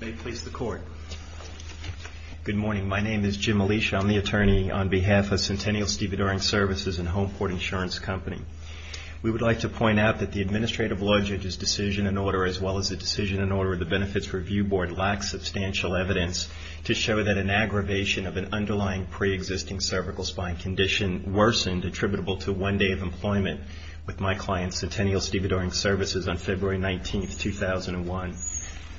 May it please the Court. Good morning. My name is Jim Alisha. I'm the attorney on behalf of Centennial Stevedoring Services and Homeport Insurance Company. We would like to point out that the Administrative Law Judge's decision in order, as well as the decision in order of the Benefits Review Board, lacks substantial evidence to show that an aggravation of an underlying pre-existing cervical spine condition worsened attributable to one day of employment with my client, Centennial Stevedoring Services, on February 19, 2001.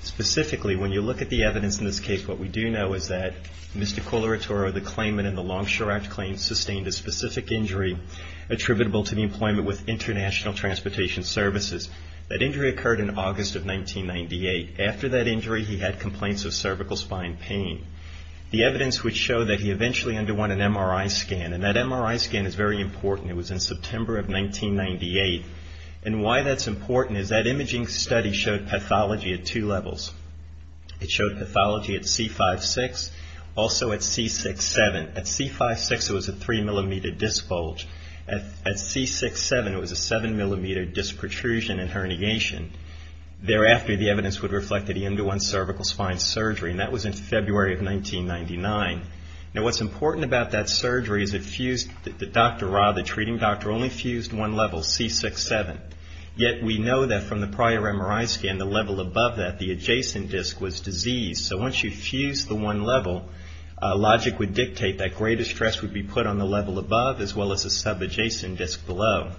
Specifically, when you look at the evidence in this case, what we do know is that Mr. Coleratore, the claimant in the Longshore Act claim, sustained a specific injury attributable to the employment with International Transportation Services. That injury occurred in August of 1998. After that injury, he had complaints of cervical spine pain. The evidence would show that he eventually underwent an MRI scan. And that MRI scan is very important. It was in September of 1998. And why that's important is that imaging study showed pathology at two levels. It showed pathology at C5-6, also at C6-7. At C5-6, it was a 3 millimeter disc bulge. At C6-7, it was a 7 millimeter disc protrusion and herniation. Thereafter, the evidence would reflect that he underwent cervical spine surgery. And that was in February of 1999. Now, what's important about that surgery is it fused the Dr. Ra, the treating doctor, only fused one level, C6-7. Yet, we know that from the prior MRI scan, the level above that, the adjacent disc, was diseased. So once you fused the one level, logic would dictate that greater stress would be put on the level above as well as the sub-adjacent disc below.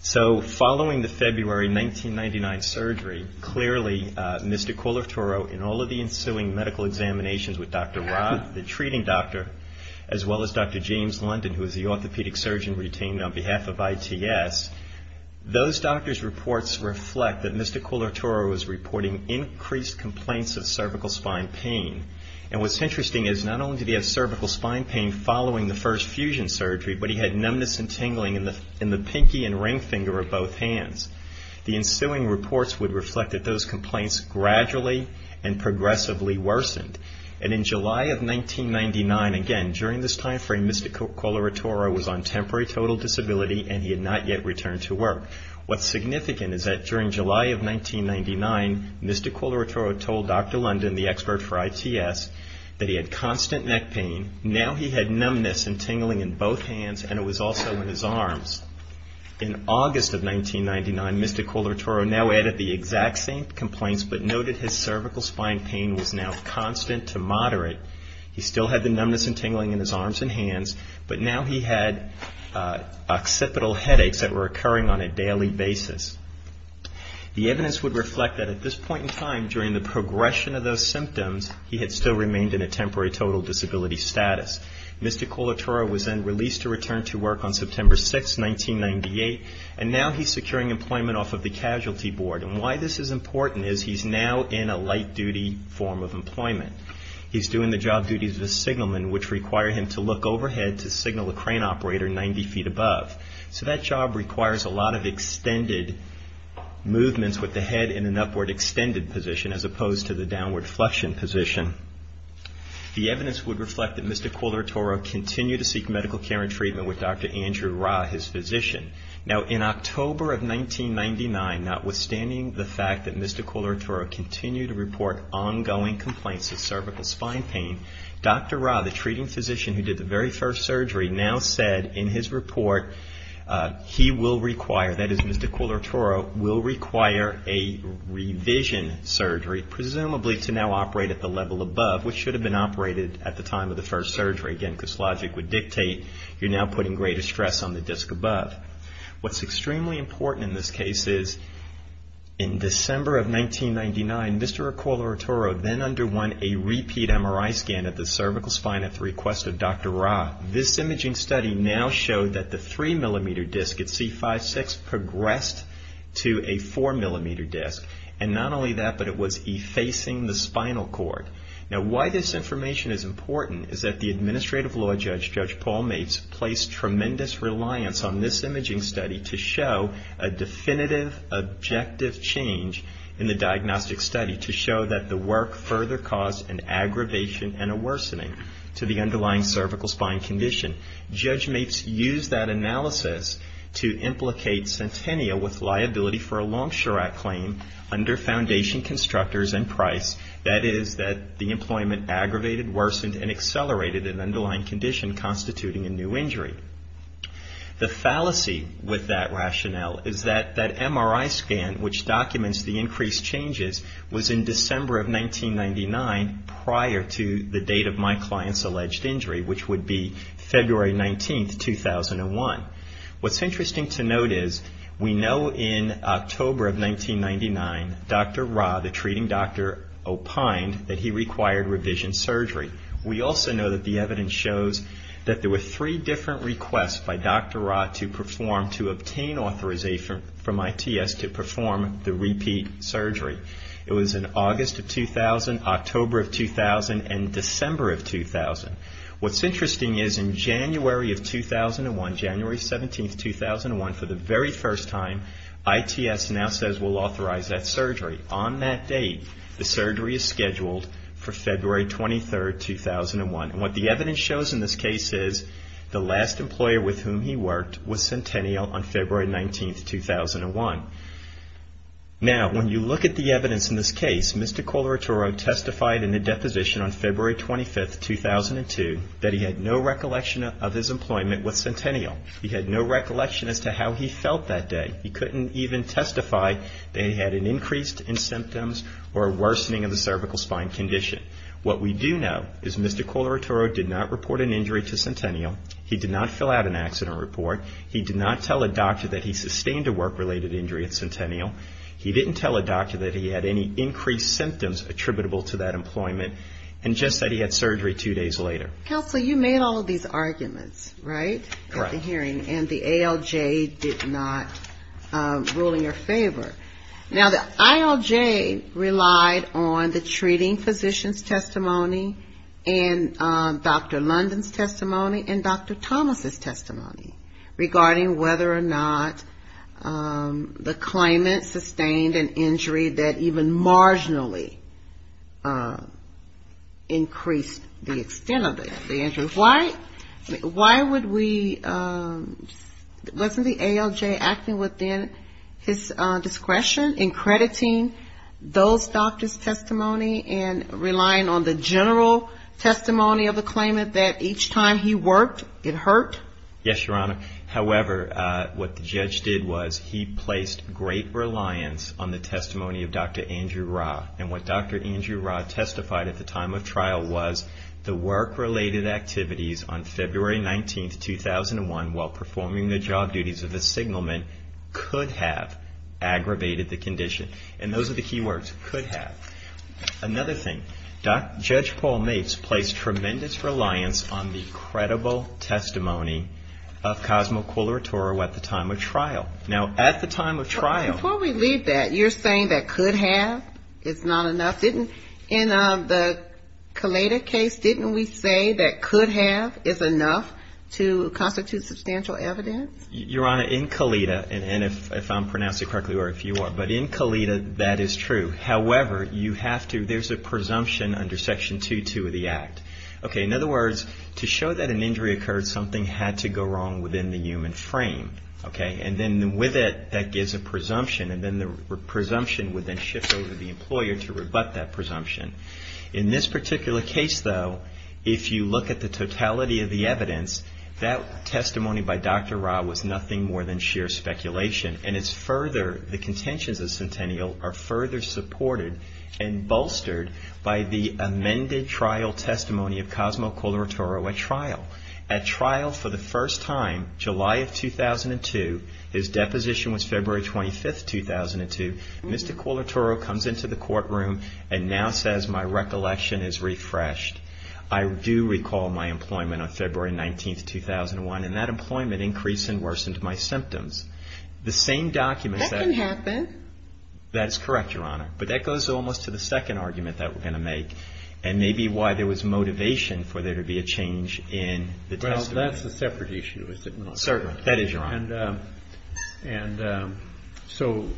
So, following the February 1999 surgery, clearly, Mr. Koulartoro, in all of the ensuing medical examinations with Dr. Ra, the treating doctor, as well as Dr. James London, who is the orthopedic surgeon retained on behalf of ITS, those doctors' reports reflect that Mr. Koulartoro was reporting increased complaints of cervical spine pain. And what's interesting is not only did he have cervical spine pain following the first fusion surgery, but he had numbness and tingling in the pinky and ring finger of both hands. The ensuing reports would reflect that those complaints gradually and progressively worsened. And in July of 1999, again, during this time frame, Mr. Koulartoro was on temporary total disability and he had not yet returned to work. What's significant is that during July of 1999, Mr. Koulartoro told Dr. London, the expert for ITS, that he had numbness and tingling in both hands and it was also in his arms. In August of 1999, Mr. Koulartoro now added the exact same complaints, but noted his cervical spine pain was now constant to moderate. He still had the numbness and tingling in his arms and hands, but now he had occipital headaches that were occurring on a daily basis. The evidence would reflect that at this point in time, during the progression of those symptoms, he had still Mr. Koulartoro was then released to return to work on September 6, 1998, and now he's securing employment off of the casualty board. And why this is important is he's now in a light-duty form of employment. He's doing the job duties of a signalman, which require him to look overhead to signal a crane operator 90 feet above. So that job requires a lot of extended movements with the head in an upward extended position as opposed to the downward flexion The evidence would reflect that Mr. Koulartoro continued to seek medical care and treatment with Dr. Andrew Ra, his physician. Now, in October of 1999, notwithstanding the fact that Mr. Koulartoro continued to report ongoing complaints of cervical spine pain, Dr. Ra, the treating physician who did the very first surgery, now said in his report he will require, that is, Mr. Koulartoro will require a revision surgery, presumably to now operate at the level above, which should have been operated at the time of the first surgery, again, because logic would dictate you're now putting greater stress on the disc above. What's extremely important in this case is, in December of 1999, Mr. Koulartoro then underwent a repeat MRI scan at the cervical spine at the request of Dr. Ra. This imaging study now showed that the 3 millimeter disc at C5-6 progressed to a 4 millimeter disc, and not Now, why this information is important is that the administrative law judge, Judge Paul Mates, placed tremendous reliance on this imaging study to show a definitive objective change in the diagnostic study to show that the work further caused an aggravation and a worsening to the underlying cervical spine condition. Judge Mates used that analysis to implicate Centennial with liability for a long-sure act claim under foundation constructors and price, that is, that the employment aggravated, worsened, and accelerated an underlying condition constituting a new injury. The fallacy with that rationale is that that MRI scan, which documents the increased changes, was in December of 1999, prior to the date of my client's alleged injury, which would be February 19, 2001. What's interesting to note is, we know in October of 1999, Dr. Ra, the treating doctor, opined that he required revision surgery. We also know that the evidence shows that there were 3 different requests by Dr. Ra to perform, to obtain authorization from ITS to January of 2001, January 17, 2001, for the very first time, ITS now says we'll authorize that surgery. On that date, the surgery is scheduled for February 23, 2001, and what the evidence shows in this case is, the last employer with whom he worked was Centennial on February 19, 2001. Now, when you look at the recollection of his employment with Centennial, he had no recollection as to how he felt that day. He couldn't even testify that he had an increase in symptoms or a worsening of the cervical spine condition. What we do know is, Mr. Colorado did not report an injury to Centennial. He did not fill out an accident report. He did not tell a doctor that he sustained a work-related injury at Centennial. He didn't tell a doctor that he had any increased symptoms attributable to that employment, and just that he had surgery two days later. Counsel, you made all of these arguments, right, at the hearing, and the ALJ did not rule in your favor. Now, the ALJ relied on the treating physician's testimony, and Dr. London's testimony, and Dr. Thomas' testimony regarding whether or not the claimant sustained an injury that even marginally increased the extent of the injury. Why would we, wasn't the ALJ acting within his discretion in crediting those doctors' testimony and relying on the general testimony of the claimant that each time he worked, it hurt? Yes, Your Honor. However, what the judge did was, he placed great reliance on the testimony of Dr. Andrew Ra. And what Dr. Andrew Ra testified at the time of trial was, the work-related activities on February 19, 2001, while performing the job duties of the signalman, could have aggravated the condition. And those are the key words, could have. Another thing, Judge Paul Mates placed tremendous reliance on the credible testimony of Cosmo Koulouratou at the time of trial. Now, at the time of trial Before we leave that, you're saying that could have is not enough? In the Kalita case, didn't we say that could have is enough to constitute substantial evidence? Well, you have to, there's a presumption under Section 2.2 of the Act. In other words, to show that an injury occurred, something had to go wrong within the human frame. And then with it, that gives a presumption. And then the presumption would then shift over to the employer to rebut that presumption. In this particular case, though, if you look at the totality of the evidence, that testimony by Dr. Ra was nothing more than sheer speculation. And it's further, the testimony of Cosmo Koulouratou at trial. At trial for the first time, July of 2002, his deposition was February 25th, 2002. Mr. Koulouratou comes into the courtroom and now says, my recollection is refreshed. I do recall my employment on February 19th, 2001. And that employment increased and worsened my employment. And that's the second argument that we're going to make. And maybe why there was motivation for there to be a change in the testimony. Well, that's a separate issue, is it not? Certainly. That is your honor. And so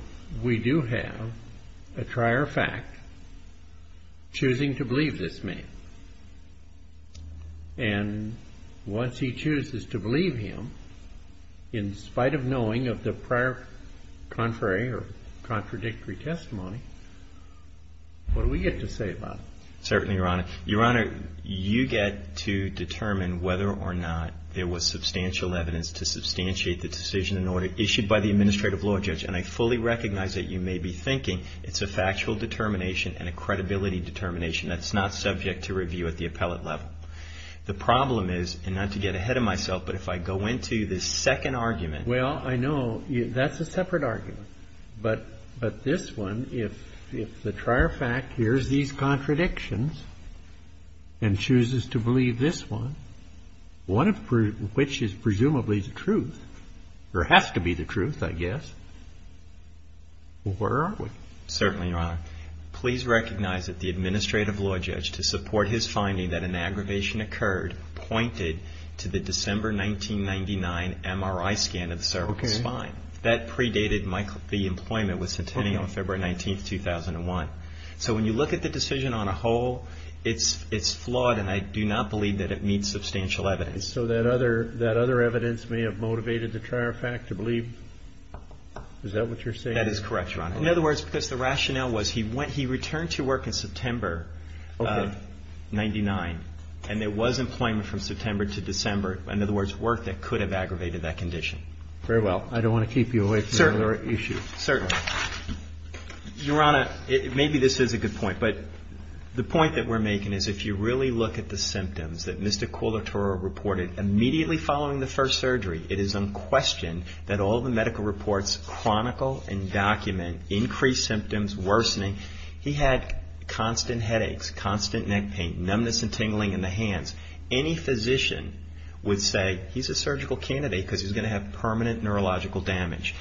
we do have a prior fact choosing to believe this man. And once he chooses to believe him, in spite of knowing of the prior contrary or the prior fact, he chooses to believe him. And that's what we get to say about it. Certainly, your honor. Your honor, you get to determine whether or not there was substantial evidence to substantiate the decision in order issued by the administrative law judge. And I fully recognize that you may be thinking it's a factual determination and a credibility determination that's not subject to review at the appellate level. The problem is, and not to get ahead of myself, but if I go into this second argument. Well, I know that's a separate argument. But this one, if the prior fact hears these contradictions and chooses to believe this one, one of which is presumably the truth, or has to be the truth, I guess, where are we? Certainly, your honor. Please recognize that the administrative law judge, to support his finding that an aggravation occurred, pointed to the December 1999 MRI scan of the cervical spine. That predated the employment with Centennial on February 19th, 2001. So when you look at the decision on a whole, it's flawed and I do not believe that it meets substantial evidence. So that other evidence may have motivated the prior fact to believe? Is that what you're saying? That is correct, your honor. In other words, because the rationale was he went, he returned to work in September of 99. And there was employment from September to December. In other words, work that could have aggravated that condition. Very well. I don't want to keep you away from another issue. Certainly. Your honor, maybe this is a good point, but the point that we're making is if you really look at the symptoms that Mr. Koulitora reported immediately following the first surgery, it is unquestioned that all the medical reports chronicle and document increased symptoms, worsening. He had constant headaches, constant neck pain, numbness and tingling in the hands. Any physician would say he's a surgical candidate because he's going to have permanent neurological damage.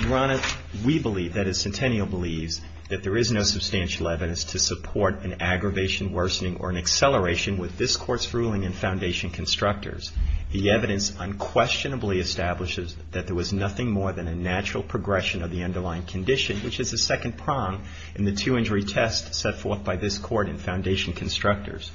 Your honor, we believe, that is Centennial believes, that there is no substantial evidence to support an aggravation, worsening, or an acceleration with this Court's ruling in Foundation Constructors. The evidence unquestionably establishes that there was nothing more than a natural progression of the underlying condition, which is the second prong in the two-injury test set forth by this Court in Foundation Constructors.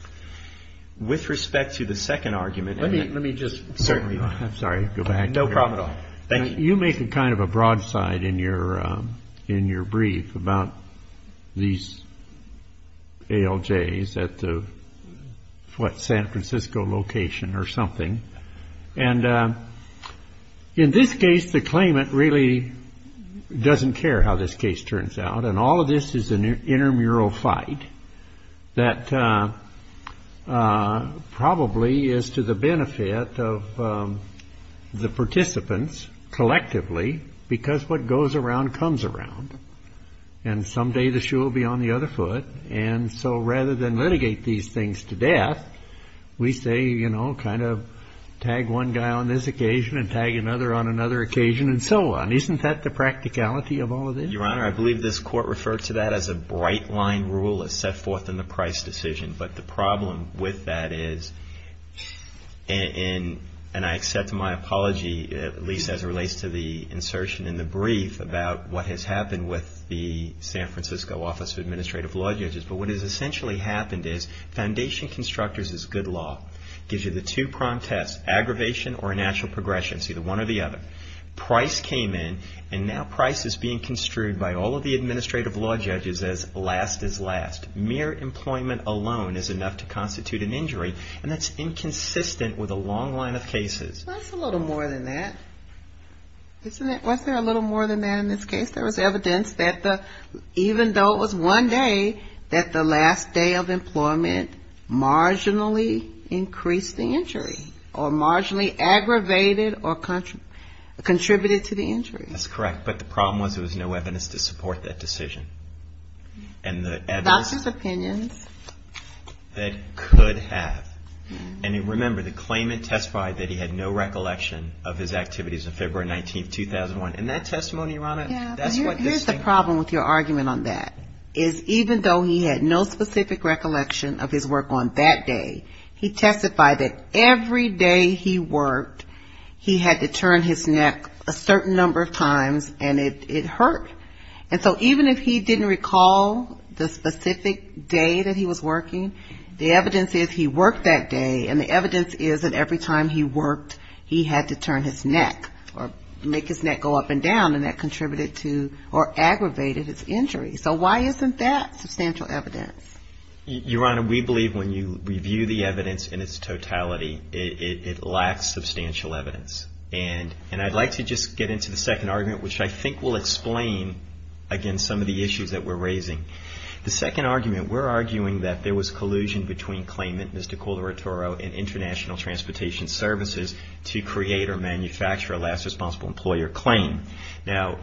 With respect to the second argument. Let me, let me just. Certainly. I'm sorry. Go back. No problem at all. Thank you. You make a kind of a broadside in your, in your brief about these ALJs at the, at the, at the, at the, what, San Francisco location or something. And in this case, the claimant really doesn't care how this case turns out. And all of this is an intermural fight that probably is to the benefit of the participants collectively, because what goes around comes around. And someday the shoe will be on the other foot. And so rather than litigate these things to death, we say, you know, kind of tag one guy on this occasion and tag another on another occasion, and so on. Isn't that the practicality of all of this? Your Honor, I believe this Court referred to that as a bright line rule as set forth in the Price decision. But the problem with that is, and I accept my apology, at least as it relates to the insertion in the brief about what has happened with the San Francisco Office of Administrative Law Judges, but what has essentially happened is Foundation Constructors is good law. Gives you the two pronged tests, aggravation or a natural progression. It's either one or the other. Price came in, and now Price is being construed by all of the Administrative Law Judges as last is last. Mere employment alone is enough to constitute an injury, and that's inconsistent with a long line of cases. That's a little more than that. Isn't it? Wasn't there a little more than that in this case? There was evidence that even though it was one day, that the last day of employment marginally increased the injury or marginally aggravated or contributed to the injury. That's correct, but the problem was there was no evidence to support that decision. Doctor's opinions. That could have. And remember the claimant testified that he had no recollection of his activities on February 19th, 2001. And that testimony, Your Honor, that's what this thing is. Here's the problem with your argument on that, is even though he had no specific recollection of his work on that day, he testified that every day he worked, he had to turn his neck a certain number of times, and it hurt. And so even if he didn't recall the specific day that he was working, the evidence is he worked that day, and the evidence is that every time he worked, he had to turn his neck or make his neck go up and down, and that contributed to or aggravated his injury. So why isn't that substantial evidence? Your Honor, we believe when you review the evidence in its totality, it lacks substantial evidence. And I'd like to just get into the second argument, which I think will explain, again, some of the issues that we're raising. The second argument, we're arguing that there was collusion between claimant, Ms. DeCordora-Toro, and International Transportation Services to create or manufacture a last responsible employer claim. Now,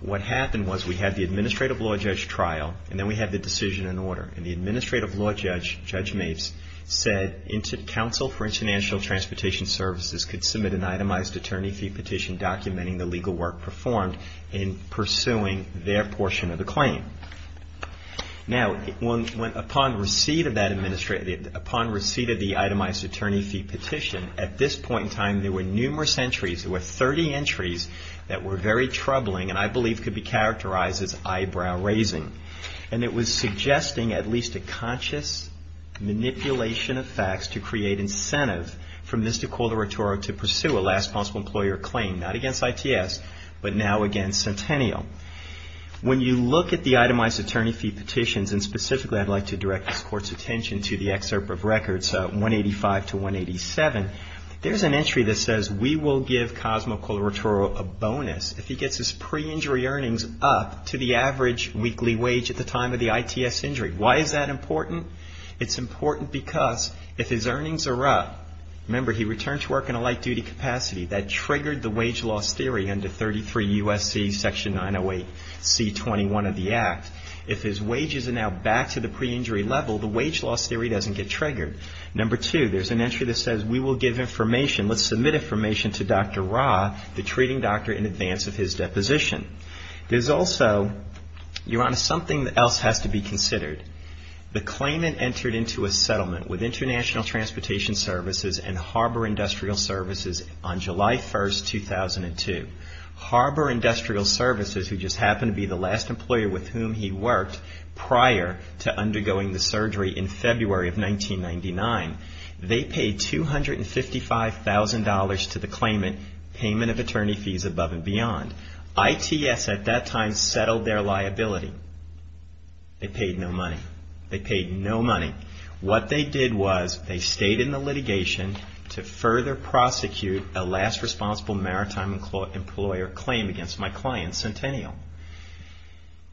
what happened was we had the Administrative Law Judge trial, and then we had the decision and order. And the Administrative Law Judge, Judge Mapes, said counsel for International Transportation Services could submit an itemized attorney fee petition documenting the legal work performed. in pursuing their portion of the claim. Now, upon receipt of the itemized attorney fee petition, at this point in time, there were numerous entries. There were 30 entries that were very troubling, and I believe could be characterized as eyebrow-raising. And it was suggesting at least a conscious manipulation of facts to create incentive for Ms. DeCordora-Toro to pursue a last responsible employer claim. Not against ITS, but now against Centennial. When you look at the itemized attorney fee petitions, and specifically, I'd like to direct this Court's attention to the excerpt of records 185 to 187, there's an entry that says, we will give Cosmo Coleritoro a bonus if he gets his pre-injury earnings up to the average weekly wage at the time of the ITS injury. Why is that important? It's important because if his earnings are up, remember, he returned to work in a light-duty capacity. That triggered the wage loss theory under 33 U.S.C. Section 908 C.21 of the Act. If his wages are now back to the pre-injury level, the wage loss theory doesn't get triggered. Number two, there's an entry that says, we will give information, let's submit information to Dr. Ra, the treating doctor, in advance of his deposition. There's also, Your Honor, something else has to be considered. The claimant entered into a settlement with International Transportation Services and Harbor Industrial Services on July 1, 2002. Harbor Industrial Services, who just happened to be the last employer with whom he worked prior to undergoing the surgery in February of 1999, they paid $255,000 to the claimant, payment of attorney fees above and beyond. ITS at that time settled their liability. They paid no money. They paid no money. What they did was they stayed in the litigation to further prosecute a last responsible maritime employer claim against my client, Centennial.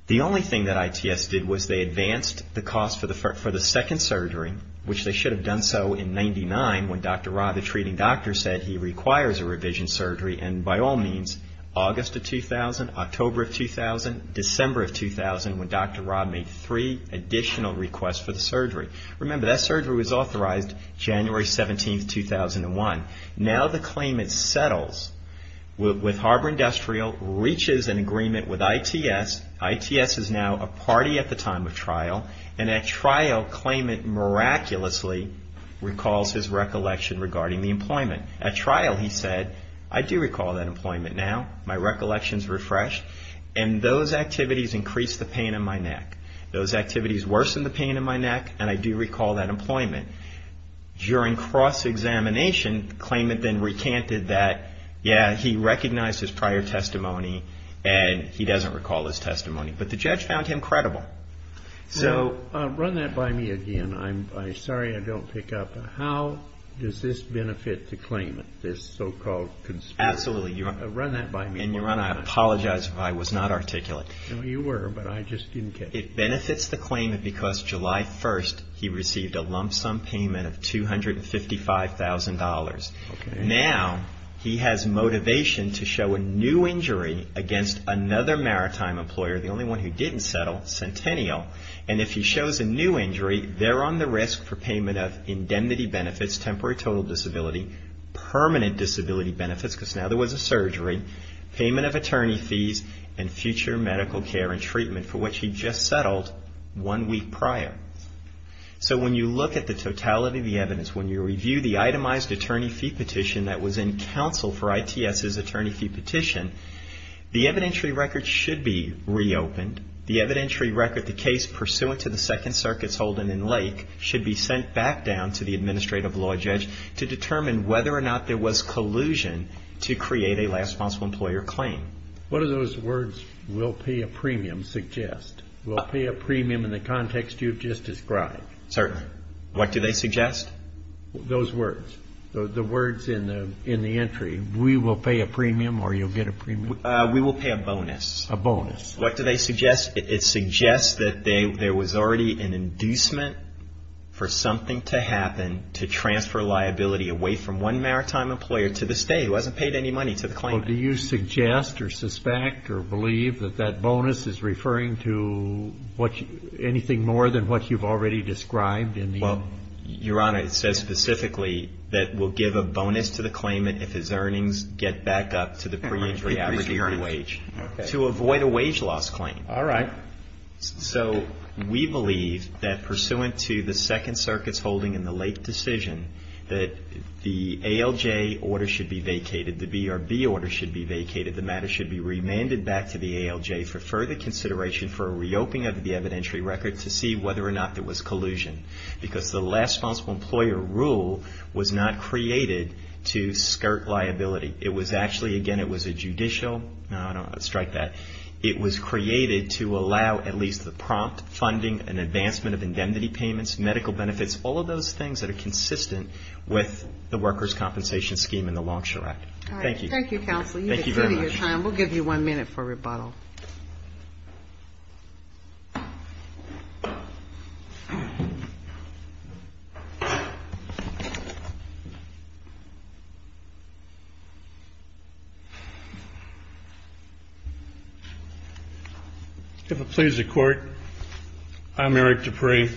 The only thing that ITS did was they advanced the cost for the second surgery, which they should have done so in 99, when Dr. Ra, the treating doctor, said he requires a revision surgery, and by all means, August of 2000, October of 2000, December of 2000, when Dr. Ra made three additional requests for the surgery. Remember, that surgery was authorized January 17, 2001. Now the claimant settles with Harbor Industrial, reaches an agreement with ITS. ITS is now a party at the time of trial, and at trial, claimant miraculously recalls his recollection regarding the employment. At trial, he said, I do recall that employment now. My recollection's refreshed, and those activities increased the pain in my neck. Those activities worsened the pain in my neck, and I do recall that employment. During cross-examination, the claimant then recanted that, yeah, he recognized his prior testimony, and he doesn't recall his testimony, but the judge found him credible. So, run that by me again. I'm sorry I don't pick up. How does this benefit the claimant, this so-called conspiracy? Absolutely. Run that by me. And your Honor, I apologize if I was not articulate. No, you were, but I just didn't catch it. It benefits the claimant because July 1st, he received a lump sum payment of $255,000. Now, he has motivation to show a new injury against another maritime employer, the only one who didn't settle, Centennial, and if he shows a new injury, they're on the risk for payment of indemnity benefits, temporary total disability, permanent disability benefits because now there was a surgery, payment of attorney fees, and future medical care and treatment for which he just settled one week prior. So, when you look at the totality of the evidence, when you review the itemized attorney fee petition that was in counsel for ITS's attorney fee petition, the evidentiary record should be reopened. The evidentiary record, the case pursuant to the Second Circuit's Holden and Lake, should be sent back down to the administrative law judge to determine whether or not there was collusion to create a last responsible employer claim. What do those words, we'll pay a premium, suggest? We'll pay a premium in the context you've just described. Certainly. What do they suggest? Those words, the words in the entry, we will pay a premium or you'll get a premium? We will pay a bonus. A bonus. What do they suggest? It suggests that there was already an inducement for something to happen to transfer liability away from one maritime employer to the state who hasn't paid any money to the claimant. Do you suggest or suspect or believe that that bonus is referring to anything more than what you've already described? Well, Your Honor, it says specifically that we'll give a bonus to the claimant if his earnings get back up to the preemptory average wage to avoid a wage loss claim. All right. So we believe that pursuant to the Second Circuit's Holden and the Lake decision that the ALJ order should be vacated, the BRB order should be vacated, the matter should be remanded back to the ALJ for further consideration for a reopening of the evidentiary record to see whether or not there was collusion because the last responsible employer rule was not created to skirt liability. It was actually, again, it was a judicial, no, I don't want to strike that. It was created to allow at least the prompt funding and advancement of indemnity payments, medical benefits, all of those things that are consistent with the workers' compensation scheme in the Longshore Act. Thank you. All right. You've exceeded your time. Thank you very much. And we'll give you one minute for rebuttal. If it pleases the Court, I'm Eric Dupree.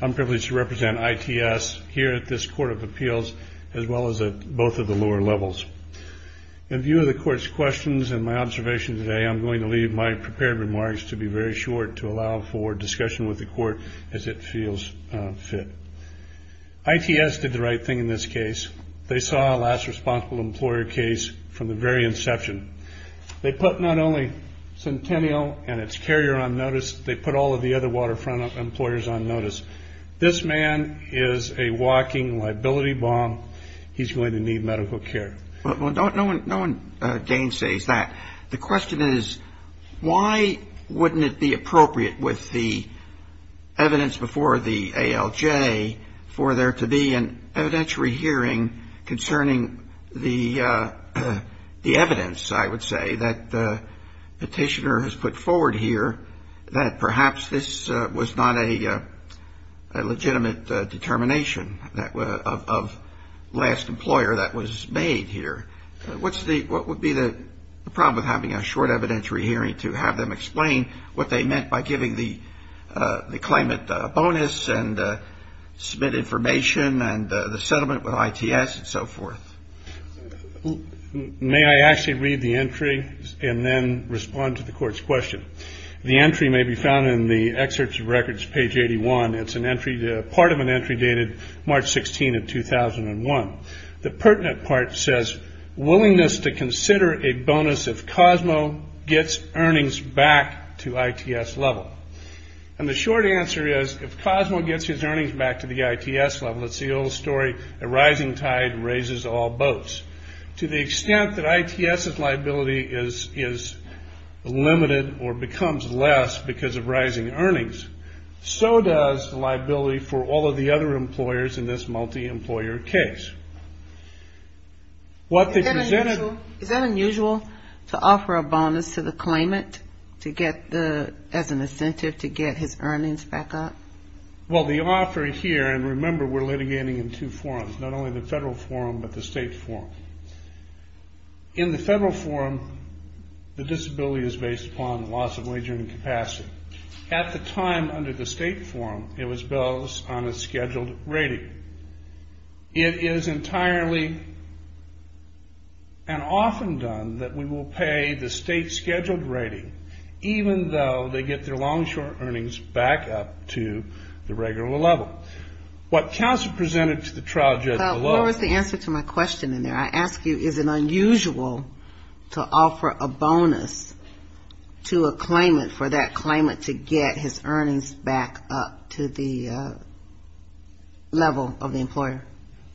I'm privileged to represent ITS here at this Court of Appeals as well as at both of the lower levels. In view of the Court's questions and my observation today, I'm going to leave my prepared remarks to be very short to allow for discussion with the Court as it feels fit. ITS did the right thing in this case. They saw a last responsible employer case from the very inception. They put not only Centennial and its carrier on notice. They put all of the other waterfront employers on notice. This man is a walking liability bomb. He's going to need medical care. Well, no one gainsays that. The question is why wouldn't it be appropriate with the evidence before the ALJ for there to be an evidentiary hearing concerning the evidence, I would say, that the Petitioner has put forward here that perhaps this was not a legitimate determination of last employer that was made here. What would be the problem with having a short evidentiary hearing to have them explain what they meant by giving the claimant a bonus and submit information and the settlement with ITS and so forth? May I actually read the entry and then respond to the Court's question? The entry may be found in the Excerpts of Records, page 81. It's part of an entry dated March 16 of 2001. The pertinent part says, Willingness to consider a bonus if Cosmo gets earnings back to ITS level. And the short answer is if Cosmo gets his earnings back to the ITS level, it's the old story, a rising tide raises all boats. To the extent that ITS's liability is limited or becomes less because of rising earnings, so does the liability for all of the other employers in this multi-employer case. Is that unusual to offer a bonus to the claimant as an incentive to get his earnings back up? Well, the offer here, and remember we're litigating in two forums, not only the federal forum but the state forum. In the federal forum, the disability is based upon loss of wagering capacity. At the time under the state forum, it was bills on a scheduled rating. It is entirely and often done that we will pay the state's scheduled rating, even though they get their long-short earnings back up to the regular level. What counsel presented to the trial judge below was the answer to my question in there. I ask you, is it unusual to offer a bonus to a claimant for that claimant to get his earnings back up to the level of the employer?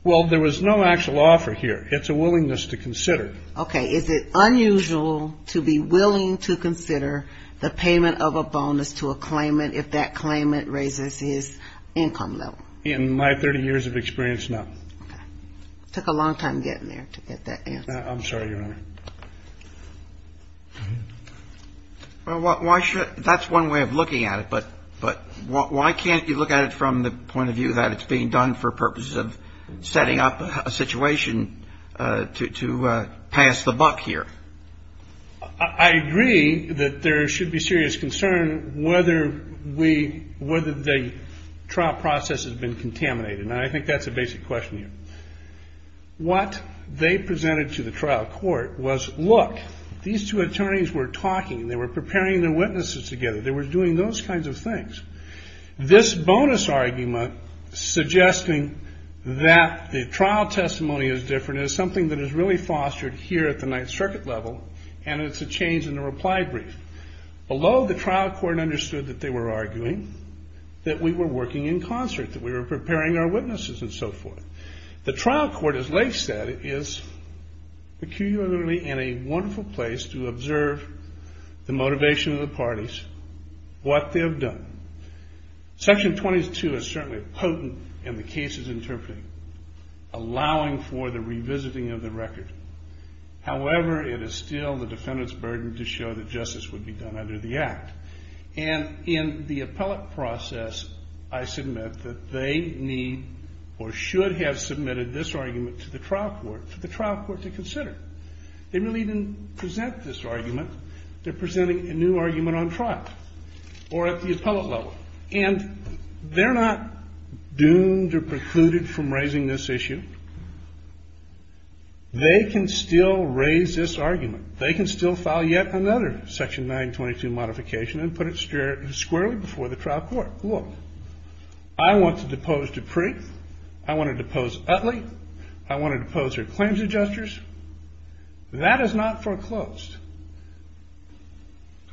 Well, there was no actual offer here. It's a willingness to consider. Okay. Is it unusual to be willing to consider the payment of a bonus to a claimant if that claimant raises his income level? In my 30 years of experience, no. Okay. It took a long time getting there to get that answer. I'm sorry, Your Honor. Well, why should – that's one way of looking at it. But why can't you look at it from the point of view that it's being done for purposes of setting up a situation to pass the buck here? I agree that there should be serious concern whether we – whether the trial process has been contaminated. And I think that's a basic question here. What they presented to the trial court was, look, these two attorneys were talking. They were preparing their witnesses together. They were doing those kinds of things. This bonus argument suggesting that the trial testimony is different is something that is really fostered here at the Ninth Circuit level, and it's a change in the reply brief. Although the trial court understood that they were arguing, that we were working in concert, that we were preparing our witnesses and so forth, the trial court, as Lake said, is peculiarly in a wonderful place to observe the motivation of the parties, what they have done. Section 22 is certainly potent in the cases interpreted, allowing for the revisiting of the record. However, it is still the defendant's burden to show that justice would be done under the Act. And in the appellate process, I submit that they need or should have submitted this argument to the trial court, for the trial court to consider. They really didn't present this argument. They're presenting a new argument on trial or at the appellate level. And they're not doomed or precluded from raising this issue. They can still raise this argument. They can still file yet another Section 922 modification and put it squarely before the trial court. Look, I want to depose Dupree. I want to depose Utley. I want to depose her claims adjusters. That is not foreclosed.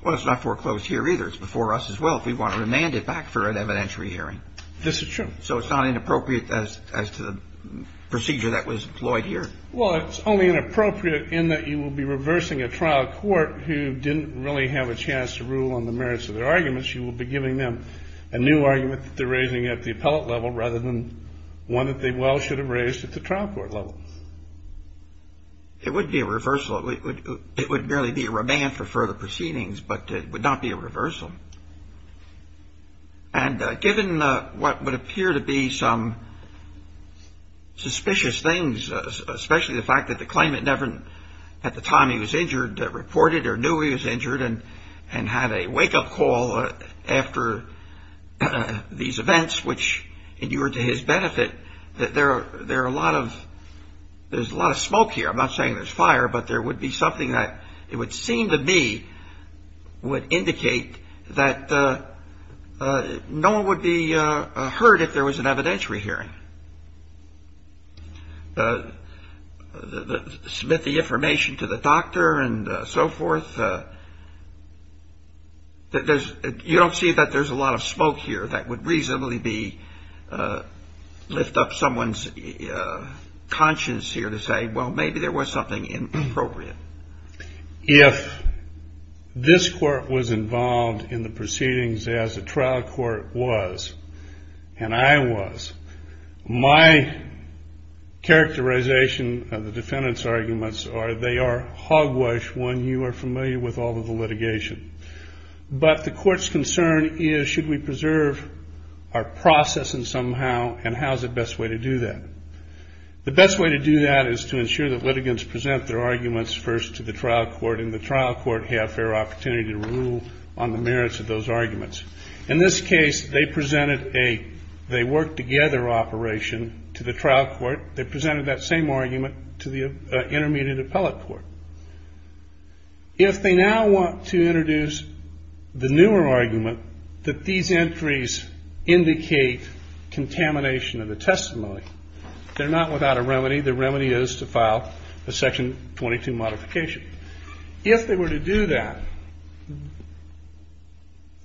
Well, it's not foreclosed here either. It's before us as well if we want to remand it back for an evidentiary hearing. This is true. So it's not inappropriate as to the procedure that was employed here? Well, it's only inappropriate in that you will be reversing a trial court who didn't really have a chance to rule on the merits of their arguments. You will be giving them a new argument that they're raising at the appellate level rather than one that they well should have raised at the trial court level. It would be a reversal. It would merely be a remand for further proceedings, but it would not be a reversal. And given what would appear to be some suspicious things, especially the fact that the claimant never at the time he was injured reported or knew he was injured and had a wake-up call after these events, which endured to his benefit, that there are a lot of there's a lot of smoke here. I'm not saying there's fire, but there would be something that it would seem to me would indicate that no one would be hurt if there was an evidentiary hearing. Submit the information to the doctor and so forth. You don't see that there's a lot of smoke here that would reasonably be lift up someone's conscience here to say, well, maybe there was something inappropriate. If this court was involved in the proceedings as a trial court was, and I was, my characterization of the defendant's arguments are they are hogwash when you are familiar with all of the litigation. But the court's concern is should we preserve our process somehow and how's the best way to do that? The best way to do that is to ensure that litigants present their arguments first to the trial court and the trial court have fair opportunity to rule on the merits of those arguments. In this case, they presented a they worked together operation to the trial court. They presented that same argument to the intermediate appellate court. If they now want to introduce the newer argument that these entries indicate contamination of the testimony, they're not without a remedy. The remedy is to file a section 22 modification. If they were to do that,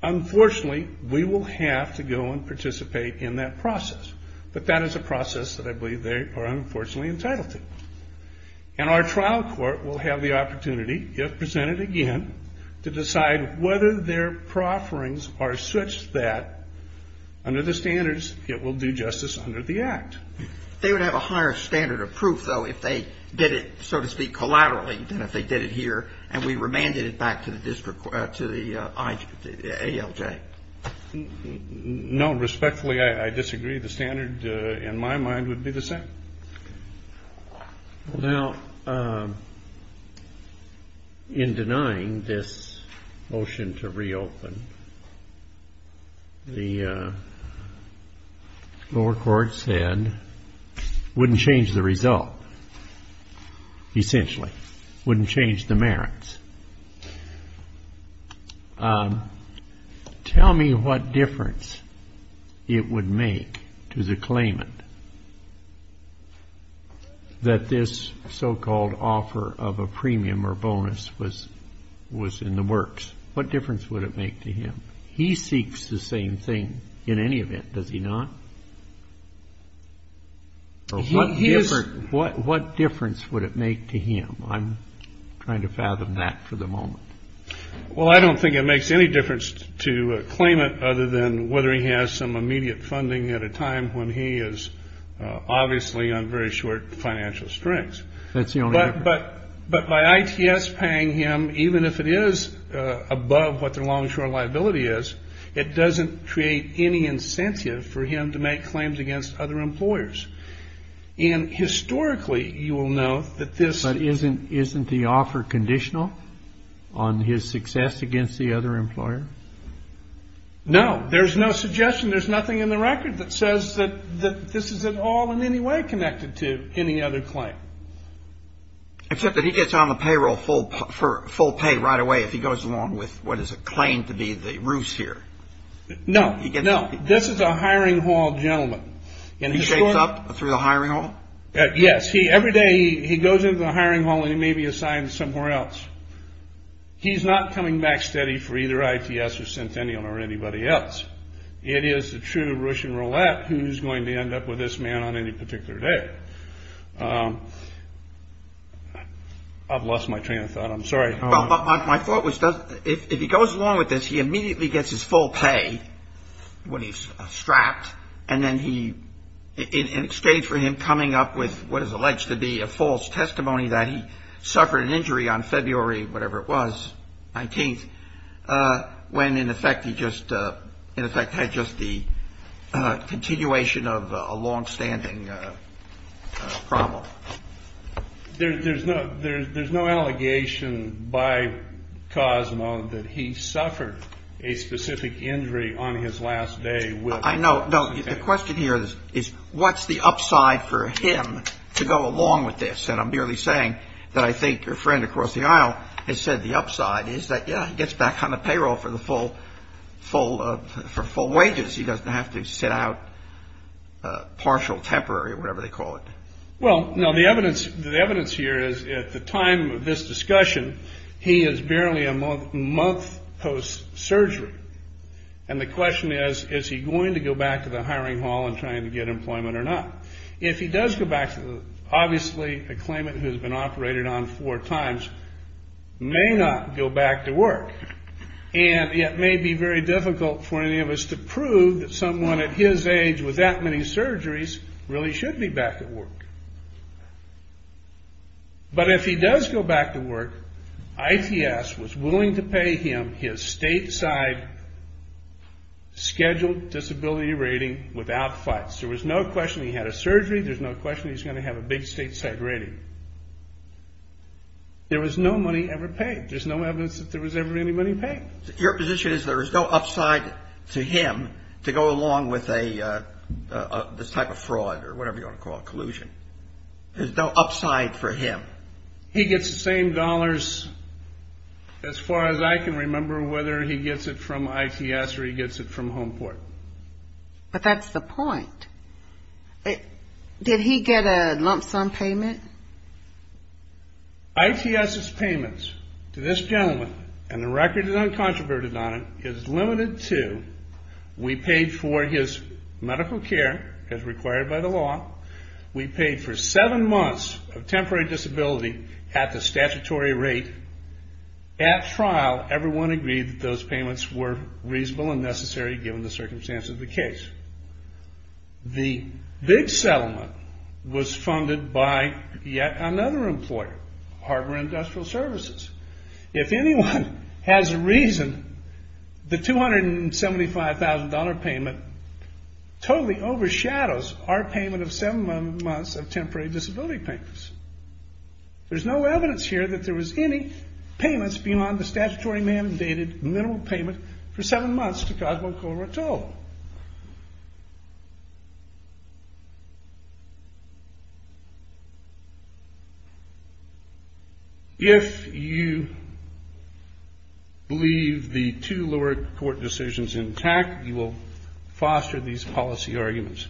unfortunately, we will have to go and participate in that process. But that is a process that I believe they are unfortunately entitled to. And our trial court will have the opportunity, if presented again, to decide whether their profferings are such that under the standards it will do justice under the Act. They would have a higher standard of proof, though, if they did it, so to speak, collaterally than if they did it here and we remanded it back to the district, to the ALJ. No. Respectfully, I disagree. The standard in my mind would be the same. Now, in denying this motion to reopen, the lower court said wouldn't change the result, essentially. Wouldn't change the merits. Tell me what difference it would make to the claimant that this so-called offer of a premium or bonus was in the works. What difference would it make to him? He seeks the same thing in any event, does he not? Or what difference would it make to him? I'm trying to fathom that for the moment. Well, I don't think it makes any difference to a claimant, other than whether he has some immediate funding at a time when he is obviously on very short financial strength. But by ITS paying him, even if it is above what their long-short liability is, it doesn't create any incentive for him to make claims against other employers. And historically, you will know that this — But isn't the offer conditional on his success against the other employer? No. There's no suggestion. There's nothing in the record that says that this is at all in any way connected to any other claim. Except that he gets on the payroll for full pay right away if he goes along with what is acclaimed to be the roost here. No, no. This is a hiring hall gentleman. He shakes up through the hiring hall? Yes. Every day he goes into the hiring hall, and he may be assigned somewhere else. He's not coming back steady for either ITS or Centennial or anybody else. It is the true ruch and roulette who's going to end up with this man on any particular day. I've lost my train of thought. I'm sorry. My thought was, if he goes along with this, he immediately gets his full pay when he's strapped. And then he — in exchange for him coming up with what is alleged to be a false testimony that he suffered an injury on February, whatever it was, 19th, when, in effect, he just — in effect, had just the continuation of a longstanding problem. There's no allegation by Cosmo that he suffered a specific injury on his last day with — I know. No, the question here is, what's the upside for him to go along with this? And I'm merely saying that I think your friend across the aisle has said the upside is that, yeah, he gets back on the payroll for the full — for full wages. He doesn't have to sit out partial, temporary, or whatever they call it. Well, no. The evidence here is, at the time of this discussion, he is barely a month post-surgery. And the question is, is he going to go back to the hiring hall and trying to get employment or not? If he does go back to the — obviously, a claimant who has been operated on four times may not go back to work. And it may be very difficult for any of us to prove that someone at his age with that many surgeries really should be back at work. But if he does go back to work, ITS was willing to pay him his stateside scheduled disability rating without fuss. There was no question he had a surgery. There's no question he's going to have a big stateside rating. There was no money ever paid. There's no evidence that there was ever any money paid. Your position is there is no upside to him to go along with a — this type of fraud or whatever you want to call it, collusion. There's no upside for him. He gets the same dollars, as far as I can remember, whether he gets it from ITS or he gets it from Homeport. But that's the point. Did he get a lump sum payment? ITS's payments to this gentleman, and the record is uncontroverted on it, is limited to we paid for his medical care, as required by the law. We paid for seven months of temporary disability at the statutory rate. At trial, everyone agreed that those payments were reasonable and necessary, given the circumstances of the case. The big settlement was funded by yet another employer, Harbor Industrial Services. If anyone has a reason, the $275,000 payment totally overshadows our payment of seven months of temporary disability payments. There's no evidence here that there was any payments beyond the statutory mandated minimal payment for seven months to Cosmo Corotel. If you believe the two lower court decisions intact, you will foster these policy arguments.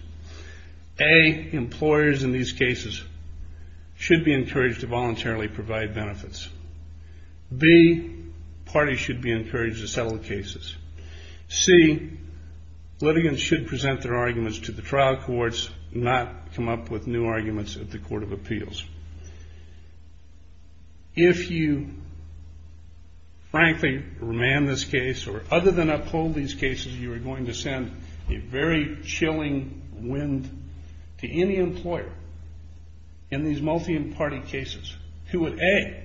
A, employers in these cases should be encouraged to voluntarily provide benefits. B, parties should be encouraged to settle cases. C, litigants should present their arguments to the trial courts, not come up with new arguments at the court of appeals. If you, frankly, remand this case, or other than uphold these cases, you are going to send a very chilling wind to any employer in these multi-party cases, who would A,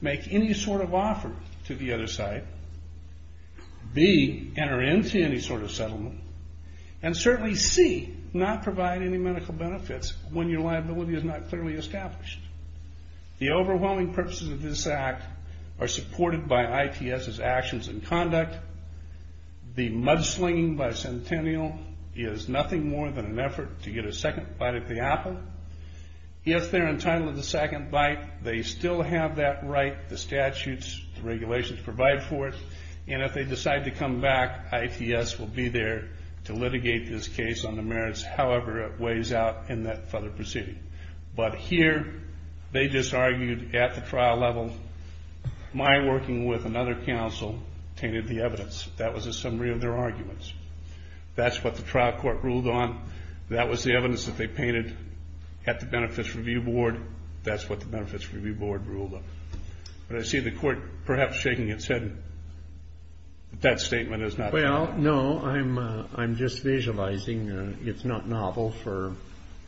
make any sort of offer to the other side, B, enter into any sort of settlement, and certainly C, not provide any medical benefits when your liability is not clearly established. The overwhelming purposes of this act are supported by ITS's actions and conduct. The mudslinging by Centennial is nothing more than an effort to get a second bite at the apple. If they're entitled to the second bite, they still have that right, the statutes, the regulations provide for it, and if they decide to come back, ITS will be there to litigate this case on the merits, however it weighs out in that further proceeding. But here, they just argued at the trial level, my working with another counsel, tainted the evidence, that was a summary of their arguments. That's what the trial court ruled on, that was the evidence that they painted at the benefits review board, that's what the benefits review board ruled on. But I see the court perhaps shaking its head, that that statement is not valid. No, I'm just visualizing, it's not novel for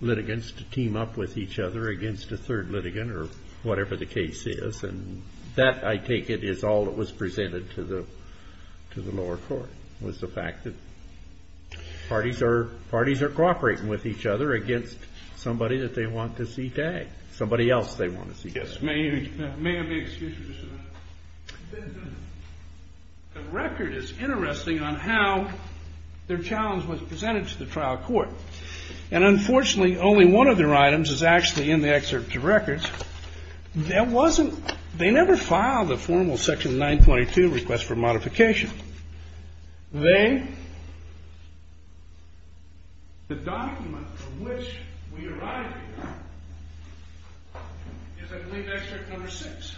litigants to team up with each other against a third litigant, or whatever the case is, and that, I take it, is all that was presented to the lower court, was the fact that parties are cooperating with each other against somebody that they want to see tagged. Somebody else they want to see tagged. The record is interesting on how their challenge was presented to the trial court, and unfortunately only one of their items is actually in the excerpt of records. They never filed a formal section 922 request for modification. The document from which we arrive here is, I believe, excerpt number 6.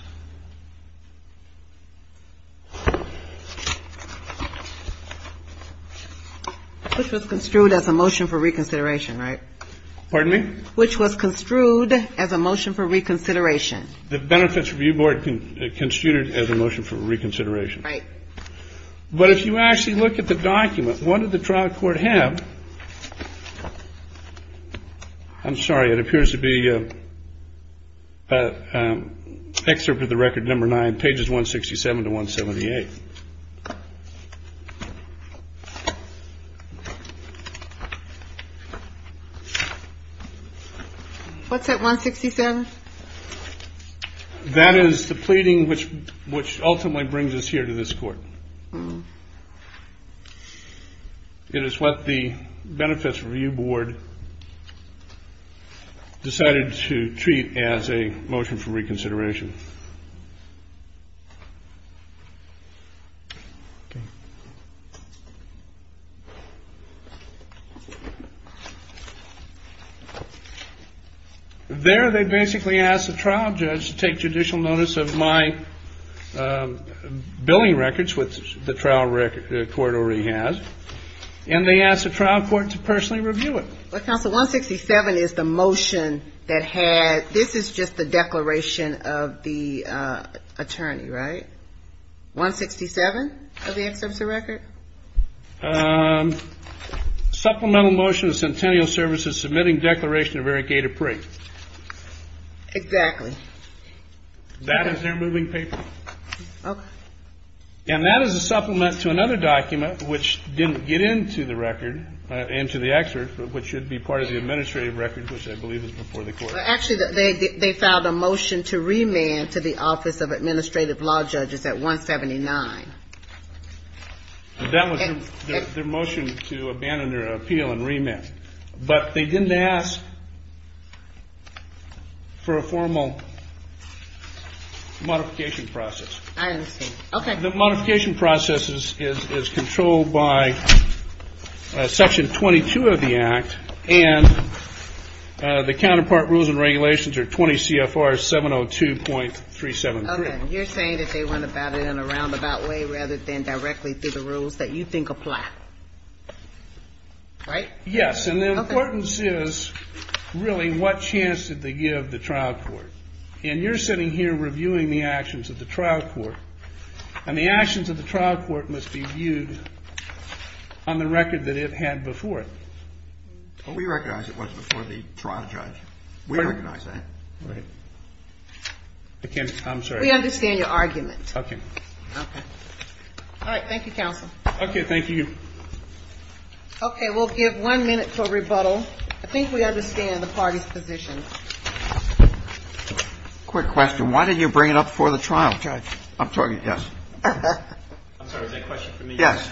Which was construed as a motion for reconsideration, right? But if you actually look at the document, what did the trial court have? I'm sorry, it appears to be excerpt of the record number 9, pages 167 to 178. What's that, 167? That is the pleading which ultimately brings us here to this court. It is what the Benefits Review Board decided to treat as a motion for reconsideration. There they basically asked the trial judge to take judicial notice of my billing records, which the trial court already has, and they asked the trial court to personally review it. Well, counsel, 167 is the motion that had, this is just the declaration of the attorney, right? 167 of the excerpt of the record? Supplemental motion of Centennial Services submitting declaration of Eric Gator Pree. That is their moving paper. That was their motion to abandon their appeal and remand, but they didn't ask for a formal modification process. I understand. Okay. The modification process is controlled by Section 22 of the Act, and the counterpart rules and regulations are 20 CFR 702.373. Okay. You're saying that they went about it in a roundabout way rather than directly through the rules that you think apply, right? Yes. And the importance is really what chance did they give the trial court? And you're sitting here reviewing the actions of the trial court, and the actions of the trial court must be viewed on the record that it had before it. Well, we recognize it was before the trial judge. We recognize that. I'm sorry. We understand your argument. Okay. Okay. All right. Thank you, counsel. Okay. Thank you. Okay. We'll give one minute for rebuttal. I think we understand the party's position. Quick question. Why did you bring it up before the trial judge? I'm sorry. Yes. I'm sorry. Is that a question for me? Yes.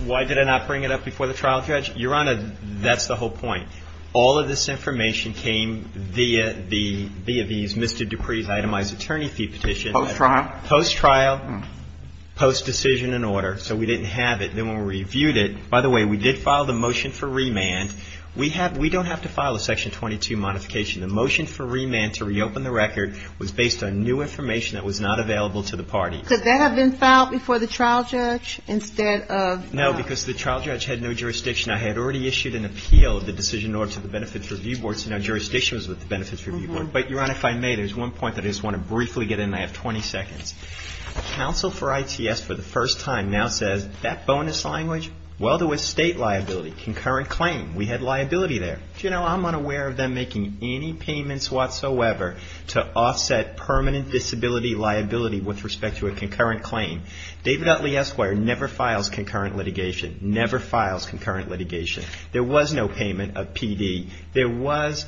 Why did I not bring it up before the trial judge? Your Honor, that's the whole point. All of this information came via the Mr. Dupree's itemized attorney fee petition. Post trial? Post trial, post decision and order. So we didn't have it. Then when we reviewed it – by the way, we did file the motion for remand. We don't have to file a section 22 modification. The motion for remand to reopen the record was based on new information that was not available to the party. Could that have been filed before the trial judge instead of – No, because the trial judge had no jurisdiction. I had already issued an appeal of the decision in order to the Benefits Review Board. So now jurisdiction was with the Benefits Review Board. But, Your Honor, if I may, there's one point that I just want to briefly get in. I have 20 seconds. Counsel for ITS for the first time now says, that bonus language, well, there was state liability, concurrent claim. We had liability there. Do you know, I'm unaware of them making any payments whatsoever to offset permanent disability liability with respect to a concurrent claim. David Utley Esquire never files concurrent litigation, never files concurrent litigation. There was no payment of PD. There was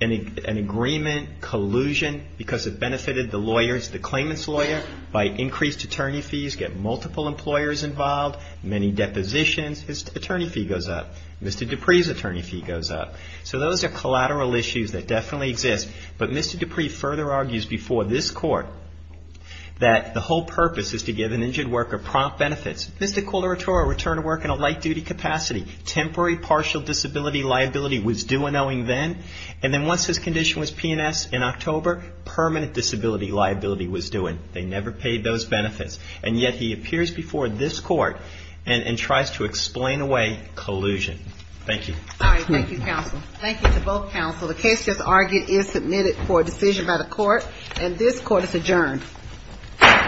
an agreement collusion because it benefited the lawyers, the claimant's lawyer, by increased attorney fees, get multiple employers involved, many depositions. His attorney fee goes up. Mr. Dupree's attorney fee goes up. So those are collateral issues that definitely exist. But Mr. Dupree further argues before this Court that the whole purpose is to give an injured worker prompt benefits. This is a collateral return to work in a light-duty capacity. Temporary partial disability liability was due and owing then. And then once his condition was P&S in October, permanent disability liability was due. And they never paid those benefits. And yet he appears before this Court and tries to explain away collusion. Thank you. All right. Thank you, Counsel. Thank you to both Counsel. The case just argued is submitted for a decision by the Court, and this Court is adjourned.